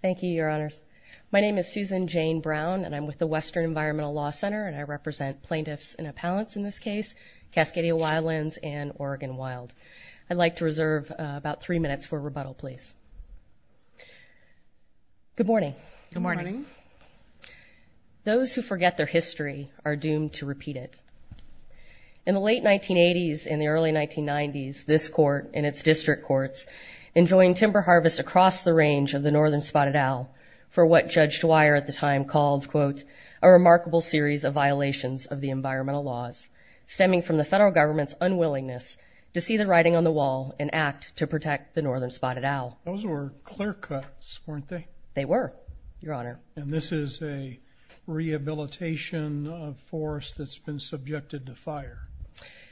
Thank you, Your Honors. My name is Susan Jane Brown, and I'm with the Western Environmental Law Center, and I represent plaintiffs and appellants in this case, Cascadia Wildlands and Oregon Wild. I'd like to reserve about three minutes for rebuttal, please. Good morning. Those who forget their history are doomed to repeat it. In the late 1980s and the early 1990s, this court and its district courts enjoined timber harvest across the range of the Northern Spotted Owl for what Judge Dwyer at the time called, quote, a remarkable series of violations of the environmental laws stemming from the federal government's unwillingness to see the writing on the wall and act to protect the Northern Spotted Owl. Those were clear cuts, weren't they? They were, Your Honor. And this is a rehabilitation of forest that's been subjected to fire.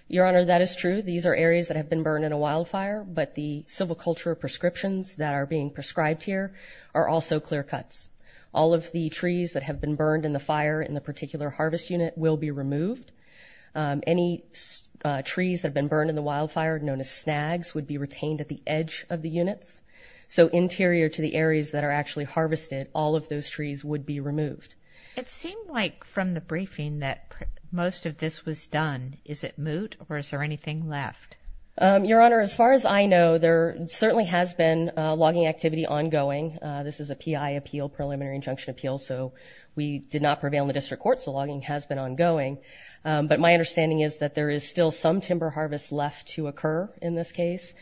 Your Honor, that is true. These are areas that have been burned in a wildfire, but the civil culture prescriptions that are being prescribed here are also clear cuts. All of the trees that have been burned in the fire in the particular harvest unit will be removed. Any trees that have been burned in the wildfire, known as snags, would be retained at the edge of the units. So interior to the areas that are actually removed. It seemed like from the briefing that most of this was done. Is it moot or is there anything left? Your Honor, as far as I know, there certainly has been logging activity ongoing. This is a P.I. appeal, preliminary injunction appeal. So we did not prevail in the district court. So logging has been ongoing. But my understanding is that there is still some timber harvest left to occur in this case.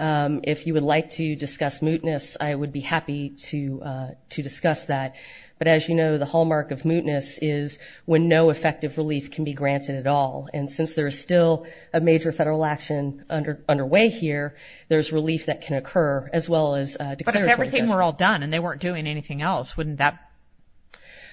If you would like to discuss mootness, I would be happy to discuss that. But as you know, the hallmark of mootness is when no effective relief can be granted at all. And since there is still a major federal action underway here, there's relief that can occur as well as declaratory relief. But if everything were all done and they weren't doing anything else, wouldn't that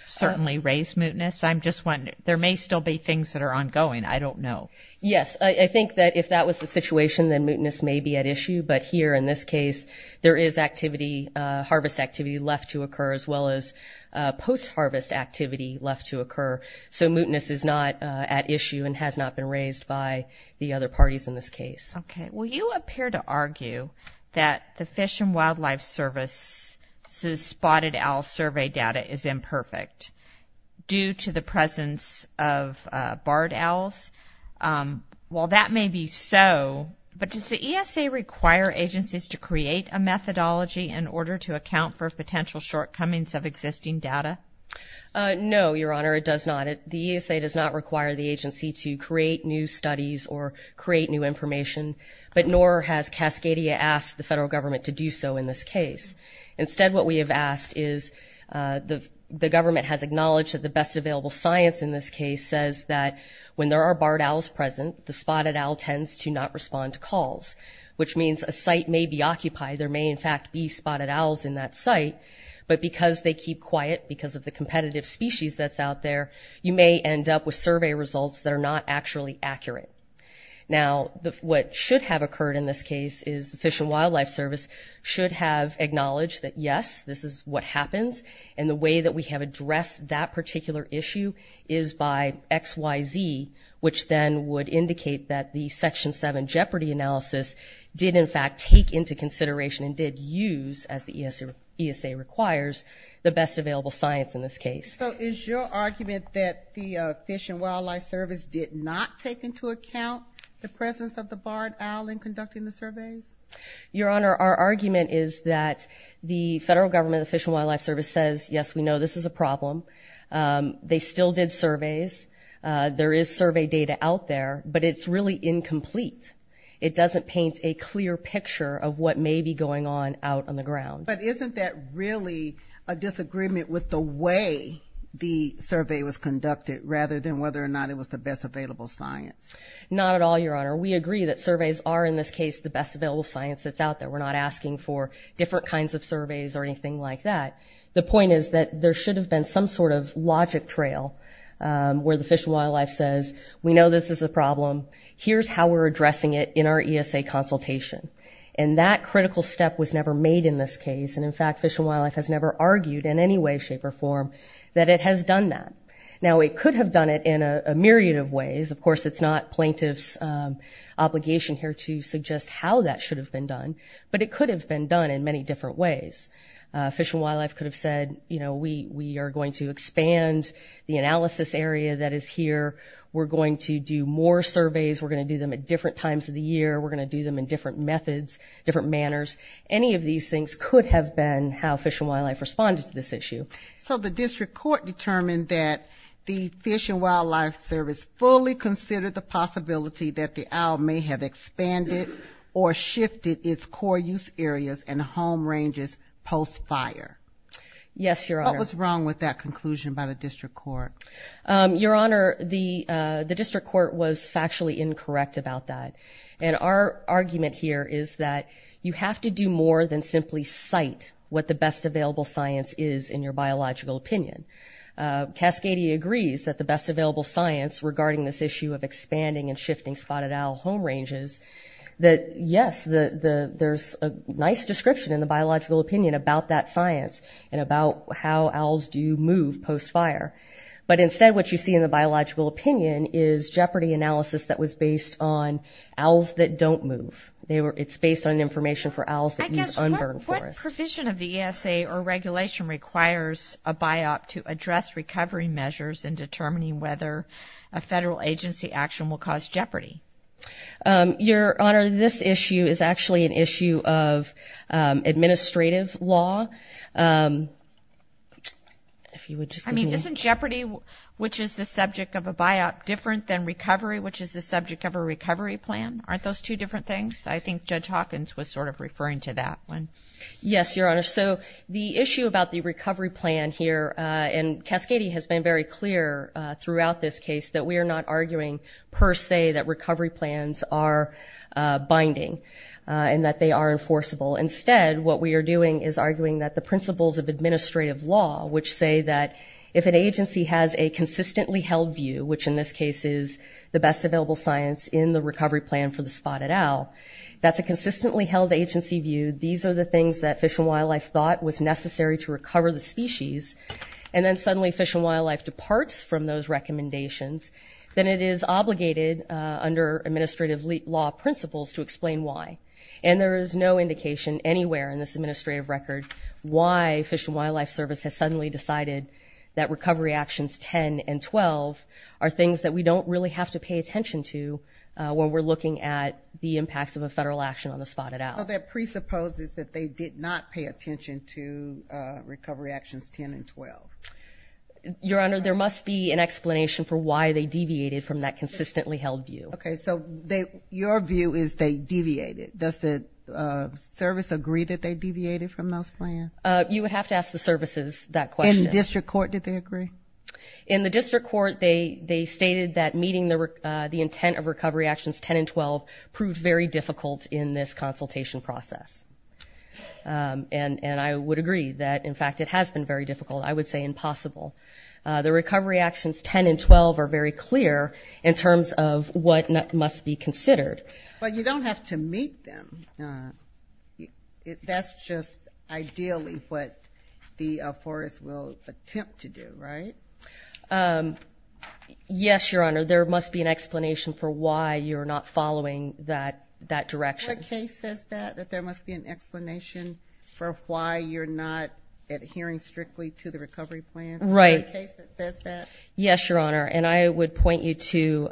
certainly raise mootness? I'm just wondering. There may still be things that are ongoing. I don't know. Yes. I think that if that was the situation, then mootness may be at issue. But here in this case, there is activity, harvest activity left to occur as well as post-harvest activity left to occur. So mootness is not at issue and has not been raised by the other parties in this case. Okay. Well, you appear to argue that the Fish and Wildlife Service's spotted owl survey data is imperfect due to the presence of barred owls. While that may be so, but does the ESA require agencies to create a methodology in order to account for potential shortcomings of existing data? No, Your Honor, it does not. The ESA does not require the agency to create new studies or create new information, but nor has Cascadia asked the federal government to do so in this case. The ESA has acknowledged that the best available science in this case says that when there are barred owls present, the spotted owl tends to not respond to calls, which means a site may be occupied. There may in fact be spotted owls in that site, but because they keep quiet because of the competitive species that's out there, you may end up with survey results that are not actually accurate. Now, what should have occurred in this case is the Fish and Wildlife Service should have acknowledged that, yes, this is what happens, and the way that we have addressed that particular issue is by XYZ, which then would indicate that the Section 7 Jeopardy analysis did in fact take into consideration and did use, as the ESA requires, the best available science in this case. So is your argument that the Fish and Wildlife Service did not take into account the presence of the barred owl in conducting the surveys? Your Honor, our argument is that the federal government, the Fish and Wildlife Service, says, yes, we know this is a problem. They still did surveys. There is survey data out there, but it's really incomplete. It doesn't paint a clear picture of what may be going on out on the ground. But isn't that really a disagreement with the way the survey was conducted rather than whether or not it was the best available science? Not at all, Your Honor. We agree that surveys are, in this case, the best available science that's out there. We're not asking for different kinds of surveys or anything like that. The point is that there should have been some sort of logic trail where the Fish and Wildlife says, we know this is a problem. Here's how we're addressing it in our ESA consultation. And that critical step was never made in this case. And, in fact, Fish and Wildlife has never argued in any way, shape, or form that it has done that. Now, it could have done it in a myriad of ways. Of course, it's not plaintiff's obligation here to suggest how that should have been done, but it could have been done in many different ways. Fish and Wildlife could have said, you know, we are going to expand the analysis area that is here. We're going to do more surveys. We're going to do them at different times of the year. We're going to do them in different methods, different manners. Any of these things could have been how Fish and Wildlife responded to this issue. So the District Court determined that the Fish and Wildlife Service fully considered the possibility that the Isle may have expanded or shifted its core use areas and home ranges post-fire. Yes, Your Honor. What was wrong with that conclusion by the District Court? Your Honor, the District Court was factually incorrect about that. And our argument here is that you have to do more than simply cite what the best available science is in your biological opinion. Cascadia agrees that the best available science regarding this issue of expanding and shifting spotted owl home ranges, that yes, there's a nice description in the biological opinion about that science and about how owls do move post-fire. But instead, what you see in the biological opinion is jeopardy analysis that was based on owls that don't move. It's based on information for owls that use unburned forests. The provision of the ESA or regulation requires a BIOP to address recovery measures in determining whether a federal agency action will cause jeopardy. Your Honor, this issue is actually an issue of administrative law. I mean, isn't jeopardy, which is the subject of a BIOP, different than recovery, which is the subject of a recovery plan? Aren't those two different things? I think Judge Hawkins was sort of referring to that one. Yes, Your Honor. So the issue about the recovery plan here, and Cascadia has been very clear throughout this case, that we are not arguing per se that recovery plans are binding and that they are enforceable. Instead, what we are doing is arguing that the principles of administrative law, which say that if an agency has a consistently held view, which in this case is the best available science in the recovery plan for the spotted owl, that's a consistently held agency view, these are the things that Fish and Wildlife thought was necessary to recover the species, and then suddenly Fish and Wildlife departs from those recommendations, then it is obligated under administrative law principles to explain why. And there is no indication anywhere in this administrative record why Fish and Wildlife Service has suddenly decided that Recovery Actions 10 and 12 are things that we don't really have to pay attention to when we're looking at the impacts of a federal action on the spotted owl. So that presupposes that they did not pay attention to Recovery Actions 10 and 12? Your Honor, there must be an explanation for why they deviated from that consistently held view. Okay, so your view is they deviated. Does the service agree that they deviated from those plans? You would have to ask the services that question. In the district court, did they agree? In the district court, they stated that meeting the intent of Recovery Actions 10 and 12 proved very difficult in this consultation process. And I would agree that, in fact, it has been very difficult. I would say impossible. The Recovery Actions 10 and 12 are very clear in terms of what must be considered. But you don't have to meet them. That's just ideally what the forest will attempt to do, right? Yes, Your Honor. There must be an explanation for why you're not following that direction. What case says that, that there must be an explanation for why you're not adhering strictly to the recovery plans? Right. Is there a case that says that? Yes, Your Honor. And I would point you to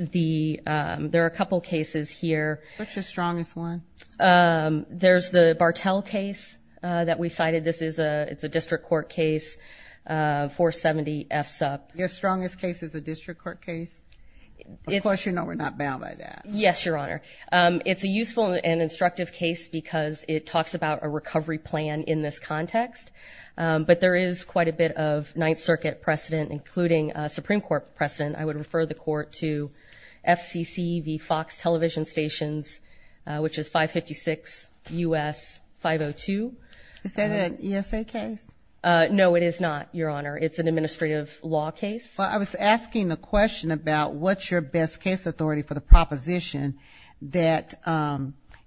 the, there are a couple cases here. What's the strongest one? There's the Bartell case that we cited. This is a, it's a district court case, 470 F SUP. Your strongest case is a district court case? Of course you know we're not bound by that. Yes, Your Honor. It's a useful and instructive case because it talks about a recovery plan in this context. But there is quite a bit of Ninth Circuit precedent, including Supreme Court precedent. I would refer the court to FCCV Fox television stations, which is 556 U.S. 502. Is that an ESA case? No, it is not, Your Honor. It's an administrative law case. Well, I was asking the question about what's your best case authority for the proposition that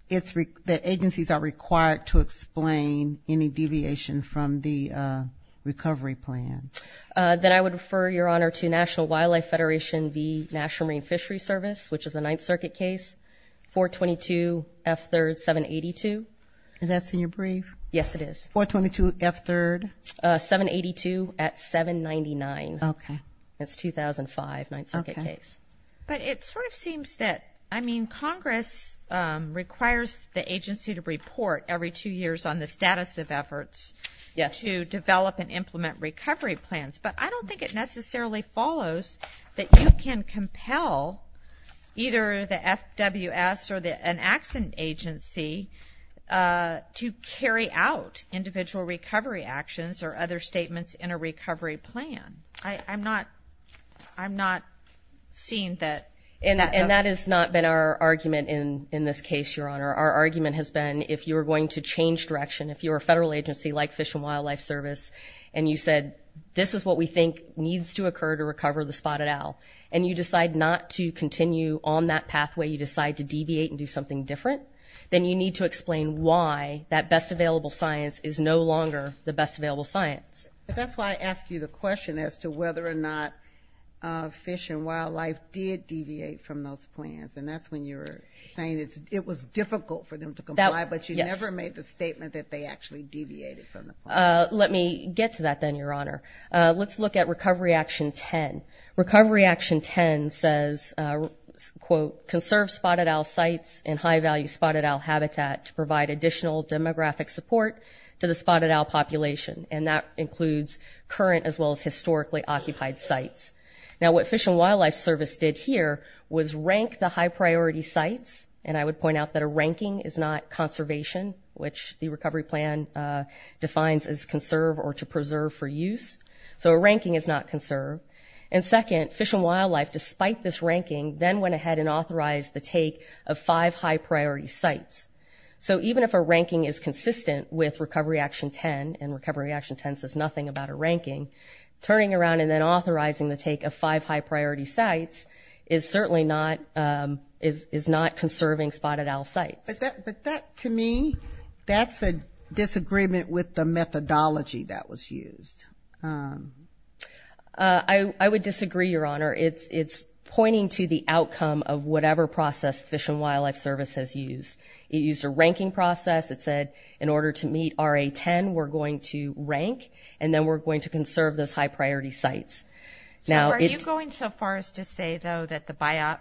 it's, that agencies are required to explain any deviation from the recovery plan. Then I would refer, Your Honor, to National Wildlife Federation v. National Marine Fishery Service, which is the Ninth Circuit case, 422 F third 782. That's in your brief? Yes, it is. 422 F third? 782 at 799. Okay. It's 2005, Ninth Circuit case. But it sort of seems that, I mean, Congress requires the agency to report every two years on the status of efforts to develop and implement recovery plans. But I don't think it necessarily follows that you can compel either the FWS or an accident agency to carry out individual recovery actions or other statements in a recovery plan. I'm not, I'm not seeing that. And that has not been our argument in this case, Your Honor. Our argument has been if you're going to change direction, if you're a federal agency like Fish and Wildlife Service, and you said, this is what we think needs to occur to recover the spotted owl, and you decide not to continue on that pathway, you decide to deviate and do something different, then you need to explain why that best available science is no longer the best available science. That's why I asked you the question as to whether or not Fish and Wildlife did deviate from those plans. And that's when you're saying it was difficult for them to comply, but you never made the statement that they actually deviated from the plan. Let me get to that then, Your Honor. Let's look at Recovery Action 10. Recovery Action 10 says, quote, conserve spotted owl sites and high-value spotted owl habitat to provide additional demographic support to the spotted owl population. And that includes current as well as historically occupied sites. Now what Fish and Wildlife Service did here was rank the high-priority sites. And I would point out that a ranking is not conservation, which the recovery plan defines as conserve or to preserve for use. So a ranking is not conserve. And second, Fish and Wildlife, despite this ranking, then went ahead and authorized the take of five high-priority sites. So even if a ranking is consistent with Recovery Action 10, and Recovery Action 10 says nothing about a ranking, turning around and then authorizing the take of five high-priority sites is certainly not, is not conserving spotted owl sites. But that, to me, that's a disagreement with the methodology that was used. I would disagree, Your Honor. It's pointing to the outcome of whatever process Fish and Wildlife Service has used. It used a ranking process. It said, in order to meet RA 10, we're going to rank, and then we're going to conserve those high-priority sites. So are you going so far as to say, though, that the BIOP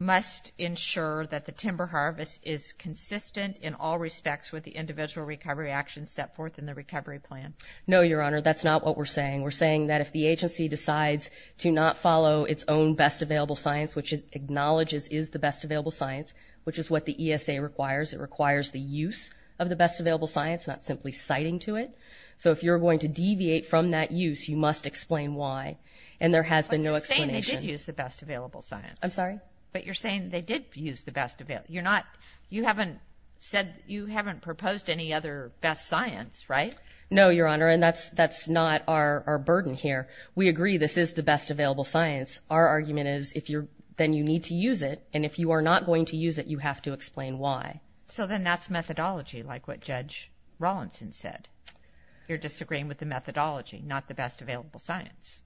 must ensure that the timber harvest is consistent in all respects with the individual recovery actions set forth in the recovery plan? No, Your Honor. That's not what we're saying. We're saying that if the agency decides to not follow its own best available science, which acknowledges is the best available science, which is what the ESA requires, it requires the use of the best available science, not simply citing to it. So if you're going to deviate from that use, you must explain why. And there has been no explanation. But you're saying they did use the best available science. I'm sorry? But you're saying they did use the best available. You're not, you haven't said, you haven't proposed any other best science, right? No, Your Honor. And that's, that's not our burden here. We agree this is the best available science. Our argument is, if you're, then you need to use it. And if you are not going to use it, you have to explain why. So then that's methodology, like what Judge Rawlinson said. You're disagreeing with the methodology, not the best available science.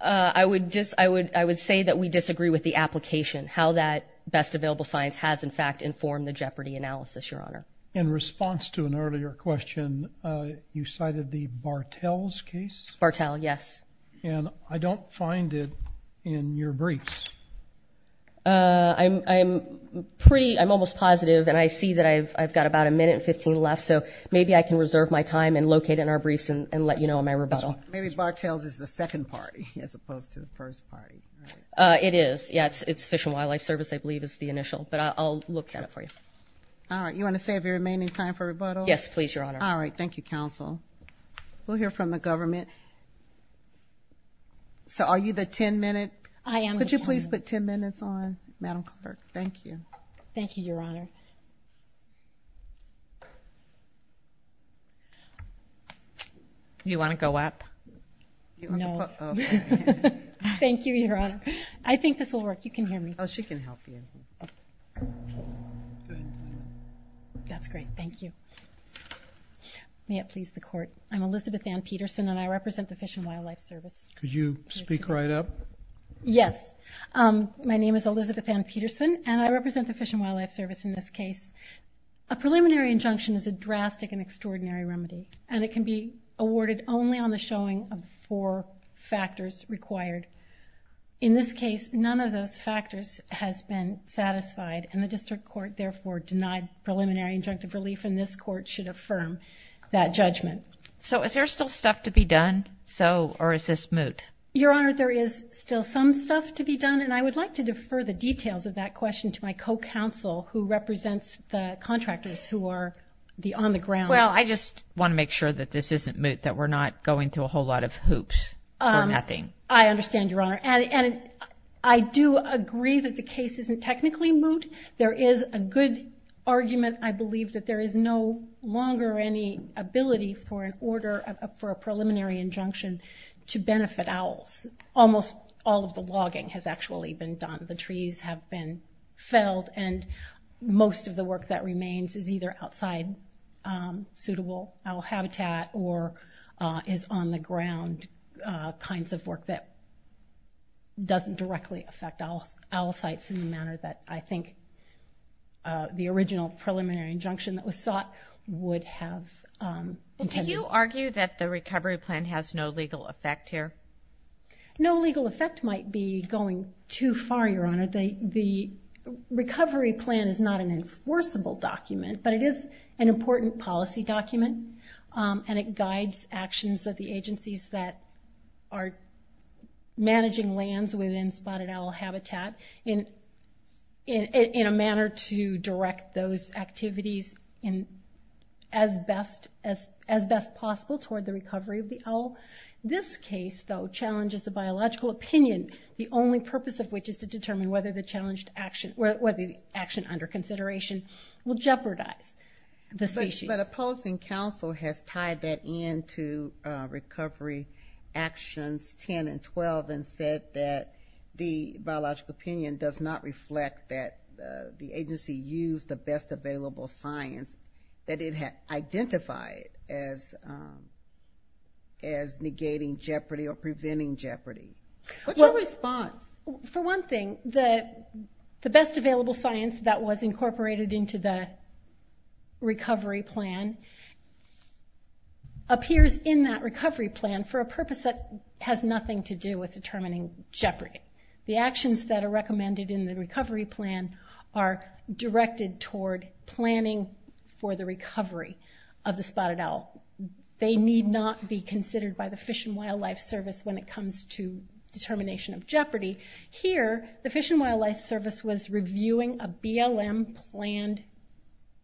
I would just, I would, I would say that we disagree with the application, how that best available science has in fact informed the Jeopardy analysis, Your Honor. In response to an earlier question, you cited the Bartels case? Bartel, yes. And I don't find it in your briefs. I'm pretty, I'm almost positive. And I see that I've got about a minute and 15 left. So maybe I can reserve my time and locate it in our briefs and let you know on my rebuttal. Maybe Bartels is the second party as opposed to the first party. It is. Yeah, it's Fish and Wildlife Service, I believe is the initial, but I'll look at it for you. All right. You want to save your remaining time for rebuttal? Yes, please, Your Honor. All right. Thank you, counsel. We'll hear from the government. So are you the 10 minute? I am. Could you please put 10 minutes on, Madam Clerk? Thank you. Thank you, Your Honor. You want to go up? No. Thank you, Your Honor. I think this will work. You can hear me. Oh, she can help you. That's great. Thank you. May it please the court. I'm Elizabeth Ann Peterson and I represent the Fish and Wildlife Service. Could you speak right up? Yes. My name is Elizabeth Ann Peterson and I represent the Fish and Wildlife Service in this case. A preliminary injunction is a drastic and extraordinary remedy and it can be awarded only on the showing of four factors required. In this case, none of those factors has been satisfied and the district court therefore denied preliminary injunctive relief and this court should affirm that judgment. So is there still stuff to be done? So, or is this moot? Your Honor, there is still some stuff to be done and I would like to defer the details of that question to my co-counsel who represents the contractors who are the on the ground. Well, I just want to make sure that this isn't moot, that we're not going through a whole lot of hoops or nothing. I understand, Your Honor. And I do agree that the case isn't technically moot. There is a good argument. I believe that there is no longer any ability for an order for a preliminary injunction to benefit owls. Almost all of the logging has actually been done. The trees have been felled and most of the work that remains is either outside suitable owl habitat or is on the ground kinds of work that doesn't directly affect owl sites in the manner that I think the original preliminary injunction that was sought would have intended. Do you argue that the recovery plan has no legal effect here? No legal effect might be going too far, Your Honor. The recovery plan is not an enforceable document, but it is an important policy document and it guides actions of the agencies that are managing lands within spotted owl habitat in a manner to direct those activities as best possible toward the recovery of the owl. This case, though, challenges the biological opinion, the only purpose of which is to determine whether the action under consideration will jeopardize the species. But opposing counsel has tied that in to Recovery Actions 10 and 12 and said that the biological opinion does not reflect that the agency used the best available science that it had identified as negating jeopardy or preventing jeopardy. What's your response? For one thing, the best available science that was incorporated into the recovery plan appears in that recovery plan for a purpose that has nothing to do with determining jeopardy. The actions that are recommended in the recovery plan are directed toward planning for the recovery of the spotted owl. They need not be considered by the Fish and Wildlife Service when it comes to determination of jeopardy. Here, the Fish and Wildlife Service was reviewing a BLM planned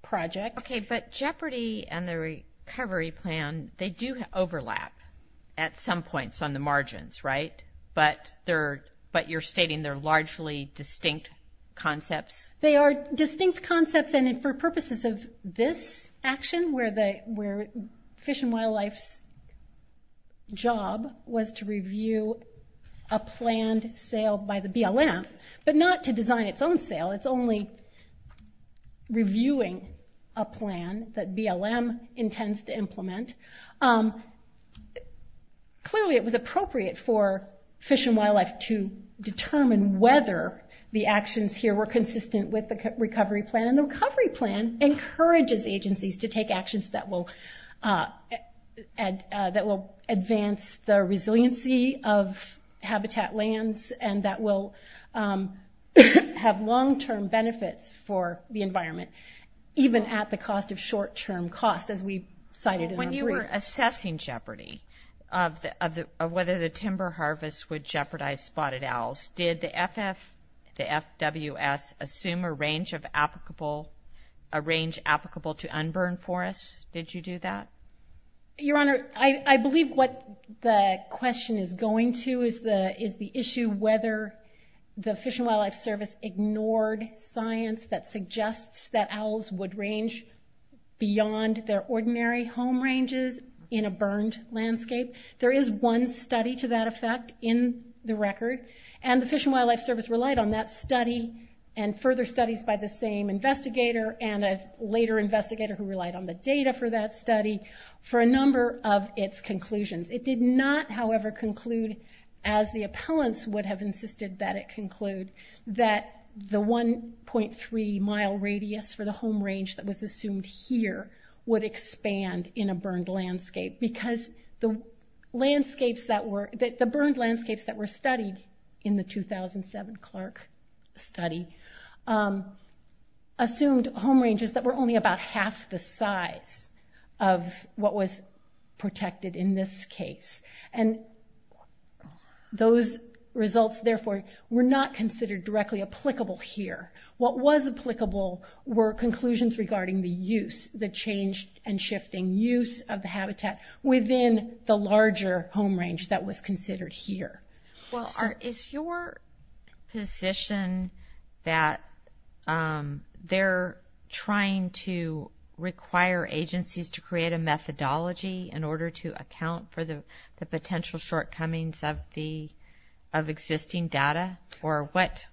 project. Okay, but jeopardy and the recovery plan, they do overlap at some points on the margins, right? But you're stating they're largely distinct concepts? They are distinct concepts and for purposes of this action where Fish and Wildlife's job was to review a planned sale by the BLM, but not to design its own sale. It's only reviewing a plan that BLM intends to implement. Clearly, it was appropriate for Fish and Wildlife to determine whether the actions here were consistent with the recovery plan. The recovery plan encourages agencies to take actions that will advance the resiliency of habitat lands and that will have long-term benefits for the environment, even at the cost of short-term costs as we cited in our brief. When you were assessing jeopardy of whether the timber harvest would jeopardize spotted owls, did the FWS assume a range applicable to unburned forests? Did you do that? Your Honor, I believe what the question is going to is the issue whether the Fish and Wildlife Service ignored science that suggests that owls would range beyond their ordinary home ranges in a burned landscape. There is one study to that effect in the record and the Fish and Wildlife Service relied on that study and further studies by the same investigator and a later investigator who relied on the data for that study for a number of its conclusions. It did not, however, conclude as the appellants would have insisted that it conclude that the 1.3 mile radius for the home range that was assumed here would expand in a burned landscape because the burned landscapes that were studied in the 2007 Clark study assumed home ranges that were only about half the size of what was protected in this case. Those results therefore were not considered directly applicable here. What was applicable were conclusions regarding the use, the change and shifting use of the habitat within the larger home range that was considered here. Is your position that they're trying to require agencies to create a methodology in order to account for the potential shortcomings of existing data or what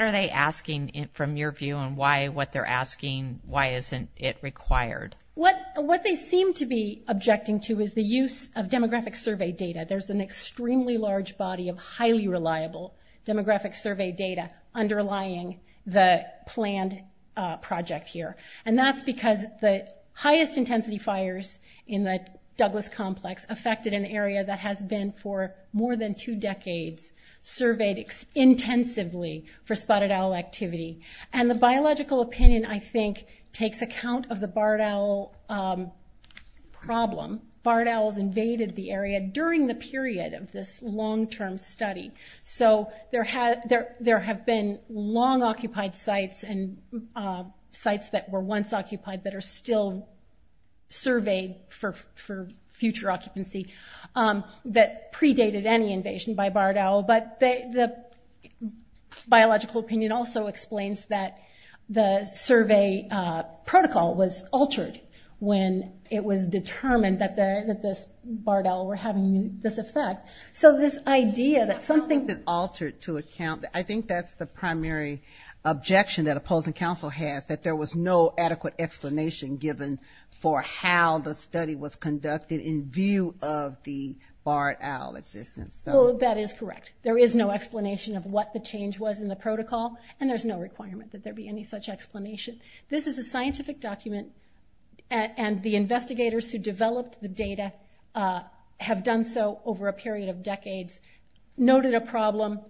are they asking from your view and why what they're asking, why isn't it required? What they seem to be objecting to is the use of demographic survey data. There's an extremely large body of highly reliable demographic survey data underlying the planned project here and that's because the highest intensity fires in the Douglas complex affected an area that has been for more than two decades surveyed intensively for spotted owl activity and the spotted owl problem, barred owls invaded the area during the period of this long term study. So there have been long occupied sites and sites that were once occupied that are still surveyed for future occupancy that predated any invasion by barred owl but the biological opinion also explains that the survey protocol was altered when it was determined that this barred owl were having this effect. So this idea that something... I don't think it altered to account, I think that's the primary objection that opposing council has that there was no adequate explanation given for how the study was conducted in view of the barred owl existence. That is correct. There is no explanation of what the change was in the protocol and there's no requirement that there be any such explanation. This is a scientific document and the investigators who developed the data have done so over a period of decades, noted a problem,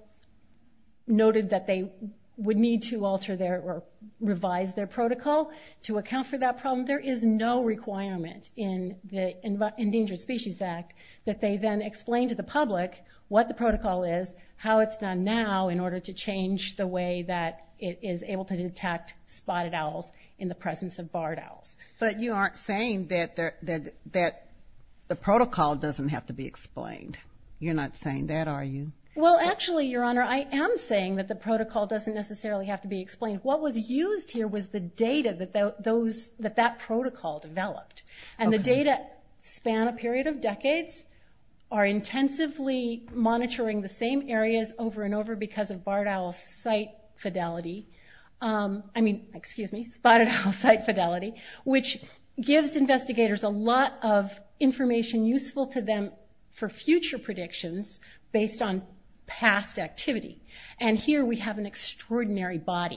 noted that they would need to alter their or revise their protocol to account for that problem. There is no requirement in the Endangered Species Act that they then explain to the public what the protocol is, how it's done now in order to change the way that it is able to detect spotted owls in the presence of barred owls. But you aren't saying that the protocol doesn't have to be explained. You're not saying that, are you? Well actually, Your Honor, I am saying that the protocol doesn't necessarily have to be developed. And the data span a period of decades, are intensively monitoring the same areas over and over because of spotted owl site fidelity, which gives investigators a lot of information useful to them for future predictions based on past activity. And here we have an example of a barred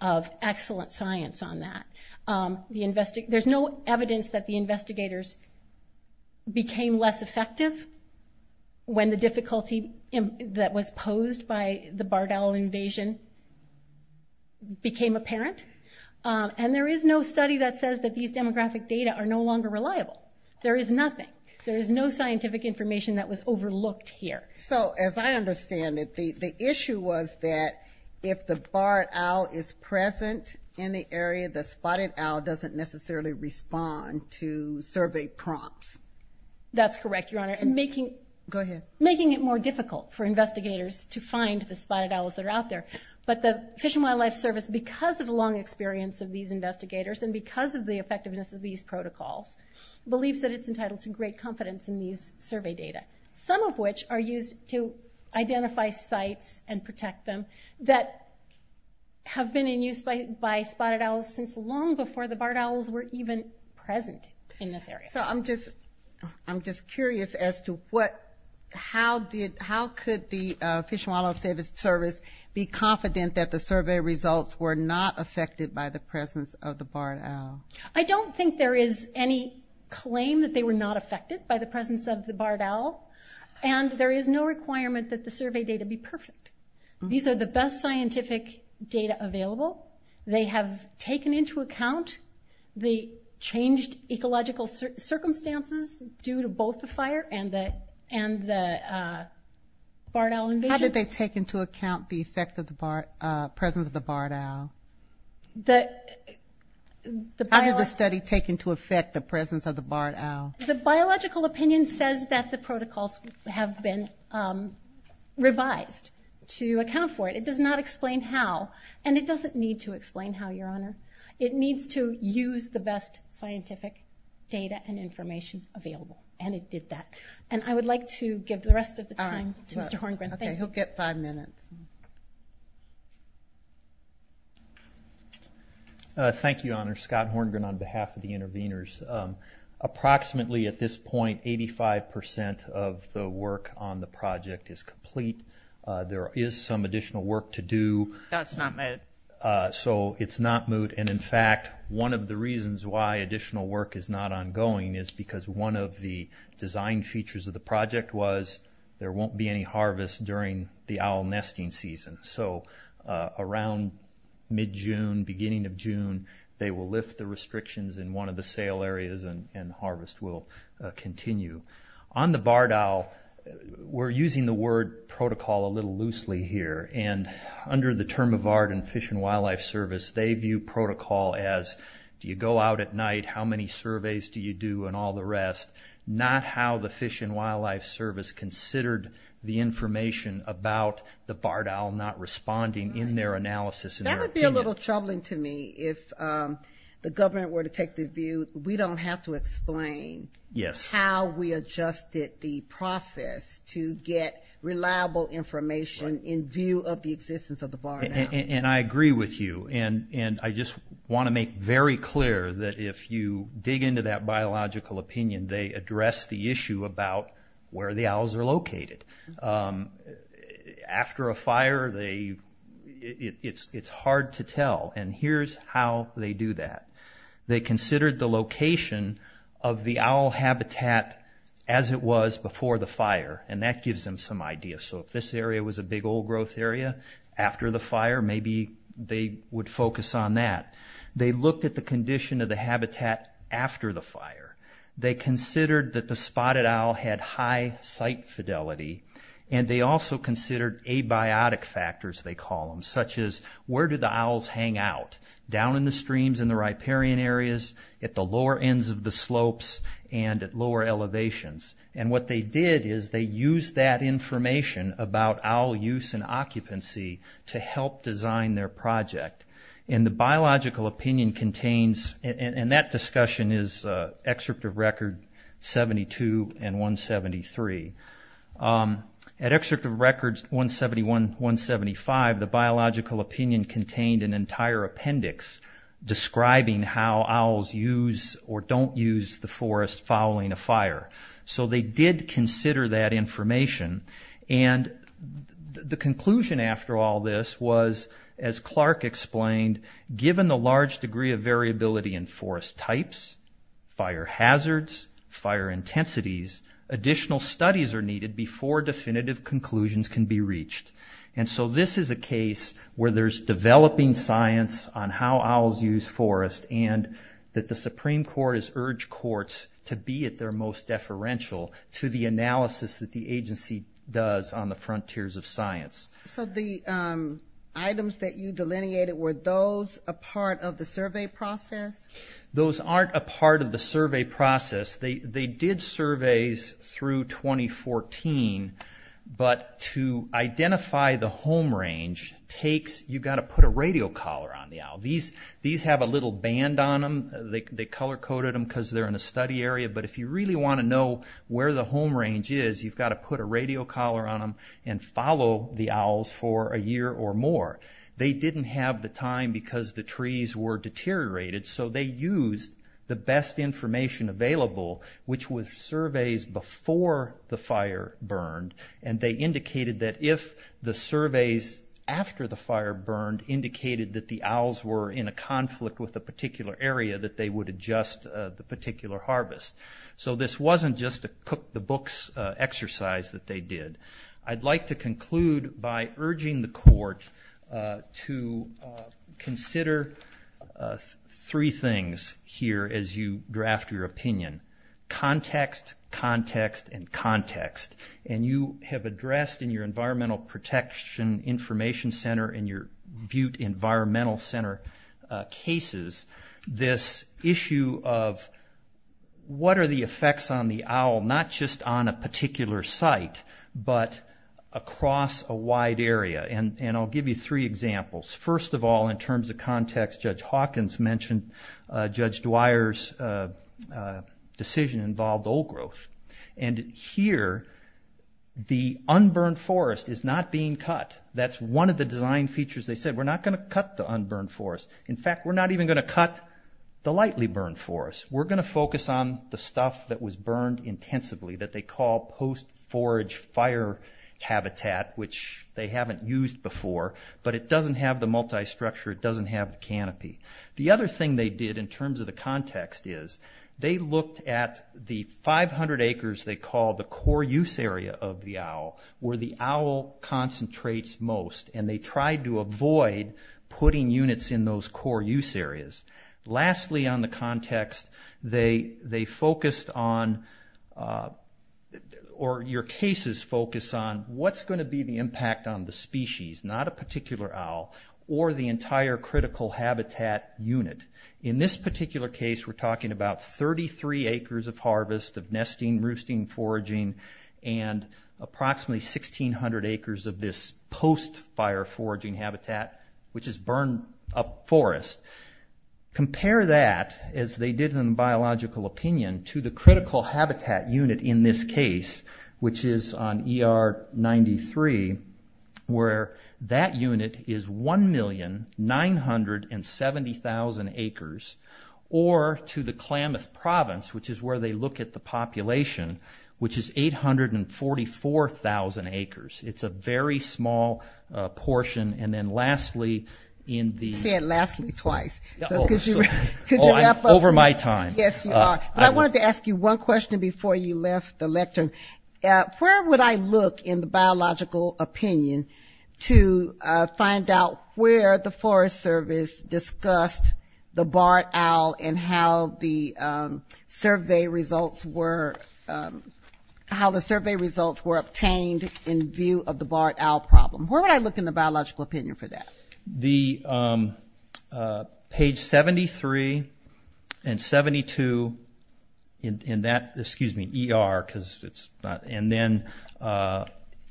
owl site. There's no evidence that the investigators became less effective when the difficulty that was posed by the barred owl invasion became apparent. And there is no study that says that these demographic data are no longer reliable. There is nothing. There is no scientific information that was overlooked here. So as I understand it, the issue was that if the barred owl is present in the area, the spotted owl doesn't necessarily respond to survey prompts. That's correct, Your Honor. Go ahead. Making it more difficult for investigators to find the spotted owls that are out there. But the Fish and Wildlife Service, because of the long experience of these investigators and because of the effectiveness of these protocols, believes that it's entitled to great confidence in these survey data, some of which are used to identify sites and protect them, that have been in use by spotted owls since long before the barred owls were even present in this area. So I'm just curious as to how could the Fish and Wildlife Service be confident that the survey results were not affected by the presence of the barred owl? I don't think there is any claim that they were not affected by the presence of the barred owl, and there is no requirement that the survey data be perfect. These are the best scientific data available. They have taken into account the changed ecological circumstances due to both the fire and the barred owl invasion. How did they take into account the effect of the presence of the barred owl? How did the study take into effect the presence of the barred owl? The biological opinion says that the protocols have been revised to account for it. It does not explain how, and it doesn't need to explain how, Your Honor. It needs to use the best scientific data and information available, and it did that. And I would like to give the rest of the time to Mr. Horngren. Okay, he'll get five minutes. Thank you, Your Honor. Scott Horngren on behalf of the interveners. Approximately at this point, 85% of the work on the project is complete. There is some additional work to do. That's not moot. So it's not moot, and in fact, one of the reasons why additional work is not ongoing is because one of the design features of the project was there won't be any harvest during the owl nesting season. So around mid-June, beginning of June, they will lift the restrictions in one of the sale areas and harvest will continue. On the barred owl, we're using the word protocol a little loosely here, and under the term of VARD and Fish and Wildlife Service, they view protocol as do you go out at night, how many surveys do you do, and all the rest, not how the Fish and Wildlife Service considered the information about the barred owl not responding in their analysis and their opinion. That would be a little troubling to me if the government were to take the view we don't have to explain how we adjusted the process to get reliable information in view of the existence of the barred owl. And I agree with you, and I just want to make very clear that if you dig into that biological opinion, they address the issue about where the owls are located. After a fire, it's hard to tell, and here's how they do that. They considered the location of the owl habitat as it was before the fire, and that gives them some idea. So if this area was a big old growth area after the fire, maybe they would focus on that. They looked at the condition of the habitat after the fire. They considered that the spotted owl had high site fidelity, and they also considered abiotic factors, they call them, such as where do the owls hang out? Down in the streams in the riparian areas, at the lower ends of the slopes, and at lower elevations. And what they did is they used that information about owl use and occupancy to help design their project. And the biological opinion contains, and that discussion is excerpt of record 72 and 173. At excerpt of record 171-175, the biological opinion contained an entire appendix describing how owls use or don't use the forest following a fire. So they did consider that information, and the conclusion after all this was, as Clark explained, given the large degree of variability in forest types, fire hazards, fire intensities, additional studies are needed before definitive conclusions can be reached. And so this is a case where there's developing science on how owls use forest, and that the Supreme Court has urged courts to be at their most deferential to the analysis that the agency does on the frontiers of science. So the items that you delineated, were those a part of the survey process? Those aren't a part of the survey process. They did surveys through 2014, but to identify the home range takes, you've got to put a radio collar on the owl. These have a little band on them, they color coded them because they're in a study area, but if you really want to know where the home range is, you've got to put a radio collar on them and follow the owls for a year or more. They didn't have the time because the trees were deteriorated, so they used the best information available, which was surveys before the fire burned, and they indicated that if the surveys after the fire burned indicated that the owls were in a conflict with a particular area, that they would adjust the particular harvest. So this wasn't just a cook the books exercise that they did. I'd like to conclude by urging the court to consider three things here as you draft your opinion, context, context, and context, and you have addressed in your Environmental Protection Information Center and your Butte Environmental Center cases, this issue of what is the best and what are the effects on the owl, not just on a particular site, but across a wide area, and I'll give you three examples. First of all, in terms of context, Judge Hawkins mentioned Judge Dwyer's decision involved old growth, and here the unburned forest is not being cut. That's one of the design features they said, we're not going to cut the unburned forest. In fact, we're not even going to cut the lightly burned forest. We're going to focus on the stuff that was burned intensively, that they call post-forage fire habitat, which they haven't used before, but it doesn't have the multi-structure, it doesn't have the canopy. The other thing they did in terms of the context is, they looked at the 500 acres they call the core use area of the owl, where the owl concentrates most, and they tried to avoid putting units in those core use areas. Lastly, on the context, they focused on, or your cases focus on, what's going to be the impact on the species, not a particular owl, or the entire critical habitat unit. In this particular case, we're talking about 33 acres of harvest, of nesting, roosting, foraging, and approximately 1600 acres of this post-fire foraging habitat, which is unburned forest. Compare that, as they did in biological opinion, to the critical habitat unit in this case, which is on ER 93, where that unit is 1,970,000 acres, or to the Klamath Province, which is where they look at the population, which is 844,000 acres. It's a very small portion, and then lastly, in the- You said lastly twice. Could you wrap up? Over my time. Yes, you are. But I wanted to ask you one question before you left the lecture. Where would I look in the biological opinion to find out where the Forest Service discussed the barred owl and how the survey results were, how the survey results were obtained in view of the barred owl problem? Where would I look in the biological opinion for that? Page 73 and 72, in that, excuse me, ER, because it's not, and then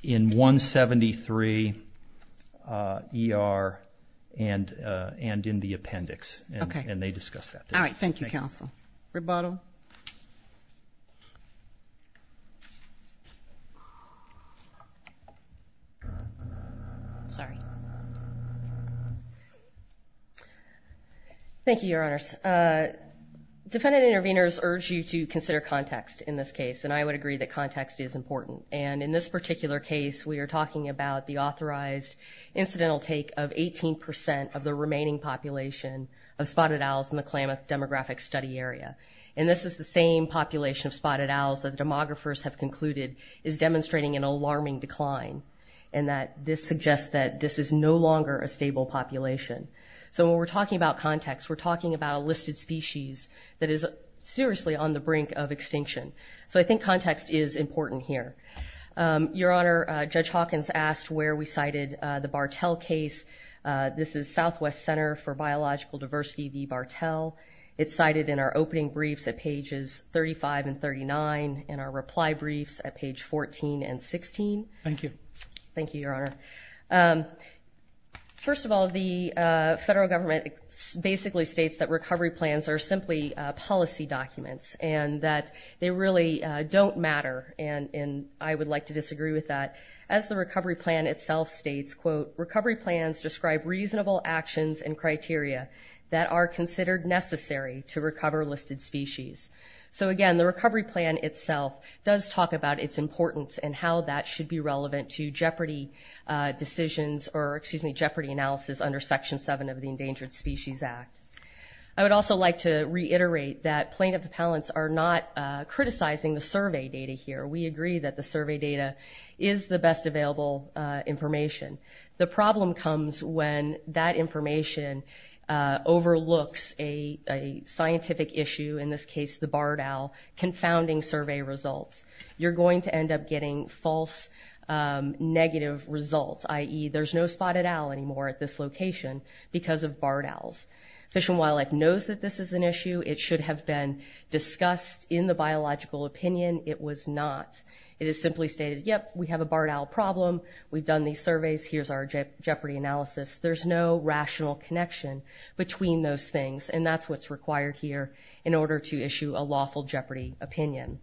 in 173, ER, and in the appendix, and they discussed that. All right, thank you, counsel. Rebuttal? Sorry. Thank you, Your Honors. Defendant intervenors urge you to consider context in this case, and I would agree that context is important, and in this particular case, we are talking about the authorized incidental take of 18 percent of the remaining population of spotted owls in the Klamath Demographic Study Area. And this is the same population of spotted owls that demographers have concluded is demonstrating an alarming decline, and that this suggests that this is no longer a stable population. So when we're talking about context, we're talking about a listed species that is seriously on the brink of extinction. So I think context is important here. Your Honor, Judge Hawkins asked where we cited the Bartell case. This is Southwest Center for Biological Diversity v. Bartell. It's cited in our opening briefs at pages 35 and 39, and our reply briefs at page 14 and 16. Thank you. Thank you, Your Honor. First of all, the federal government basically states that recovery plans are simply policy documents and that they really don't matter, and I would like to disagree with that. As the recovery plan itself states, quote, recovery plans describe reasonable actions and criteria that are considered necessary to recover listed species. So again, the recovery plan itself does talk about its importance and how that should be relevant to jeopardy decisions or, excuse me, jeopardy analysis under Section 7 of the Endangered Species Act. I would also like to reiterate that plaintiff appellants are not criticizing the survey data here. We agree that the survey data is the best available information. The problem comes when that information overlooks a scientific issue, in this case the Bartell confounding survey results. You're going to end up getting false negative results, i.e. there's no spotted owl anymore at this location because of Bartells. Fish and Wildlife knows that this is an issue. It should have been discussed in the biological opinion. It was not. It is simply stated, yep, we have a Bartell problem. We've done these surveys. Here's our jeopardy analysis. There's no rational connection between those things, and that's what's required here in order to issue a lawful jeopardy opinion.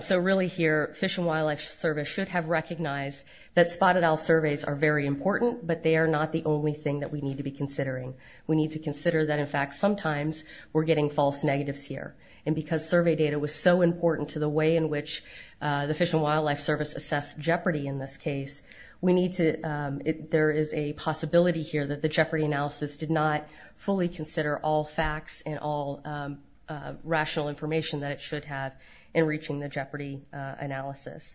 So really here, Fish and Wildlife Service should have recognized that spotted owl surveys are very important, but they are not the only thing that we need to be considering. We need to consider that, in fact, sometimes we're getting false negatives here, and because the survey data was so important to the way in which the Fish and Wildlife Service assessed jeopardy in this case, there is a possibility here that the jeopardy analysis did not fully consider all facts and all rational information that it should have in reaching the jeopardy analysis.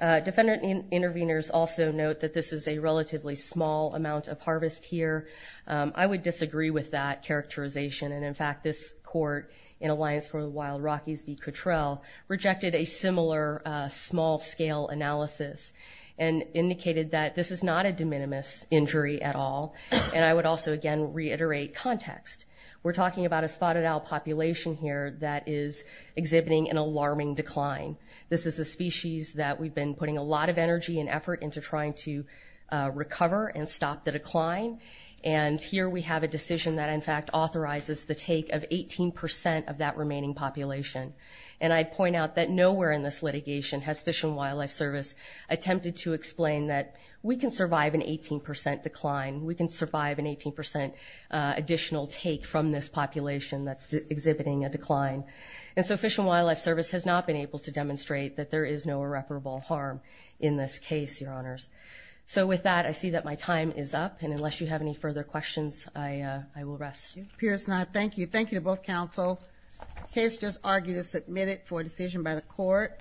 Defendant interveners also note that this is a relatively small amount of harvest here. I would disagree with that characterization, and in fact, this court in Alliance for the Wild, Rockies v. Cottrell, rejected a similar small-scale analysis and indicated that this is not a de minimis injury at all, and I would also, again, reiterate context. We're talking about a spotted owl population here that is exhibiting an alarming decline. This is a species that we've been putting a lot of energy and effort into trying to And here we have a decision that in fact authorizes the take of 18% of that remaining population, and I'd point out that nowhere in this litigation has Fish and Wildlife Service attempted to explain that we can survive an 18% decline, we can survive an 18% additional take from this population that's exhibiting a decline, and so Fish and Wildlife Service has not been able to demonstrate that there is no irreparable harm in this case, Your Honors. So with that, I see that my time is up, and unless you have any further questions, I will rest. Pierce and I thank you. Thank you to both counsel. The case just argued is submitted for decision by the court.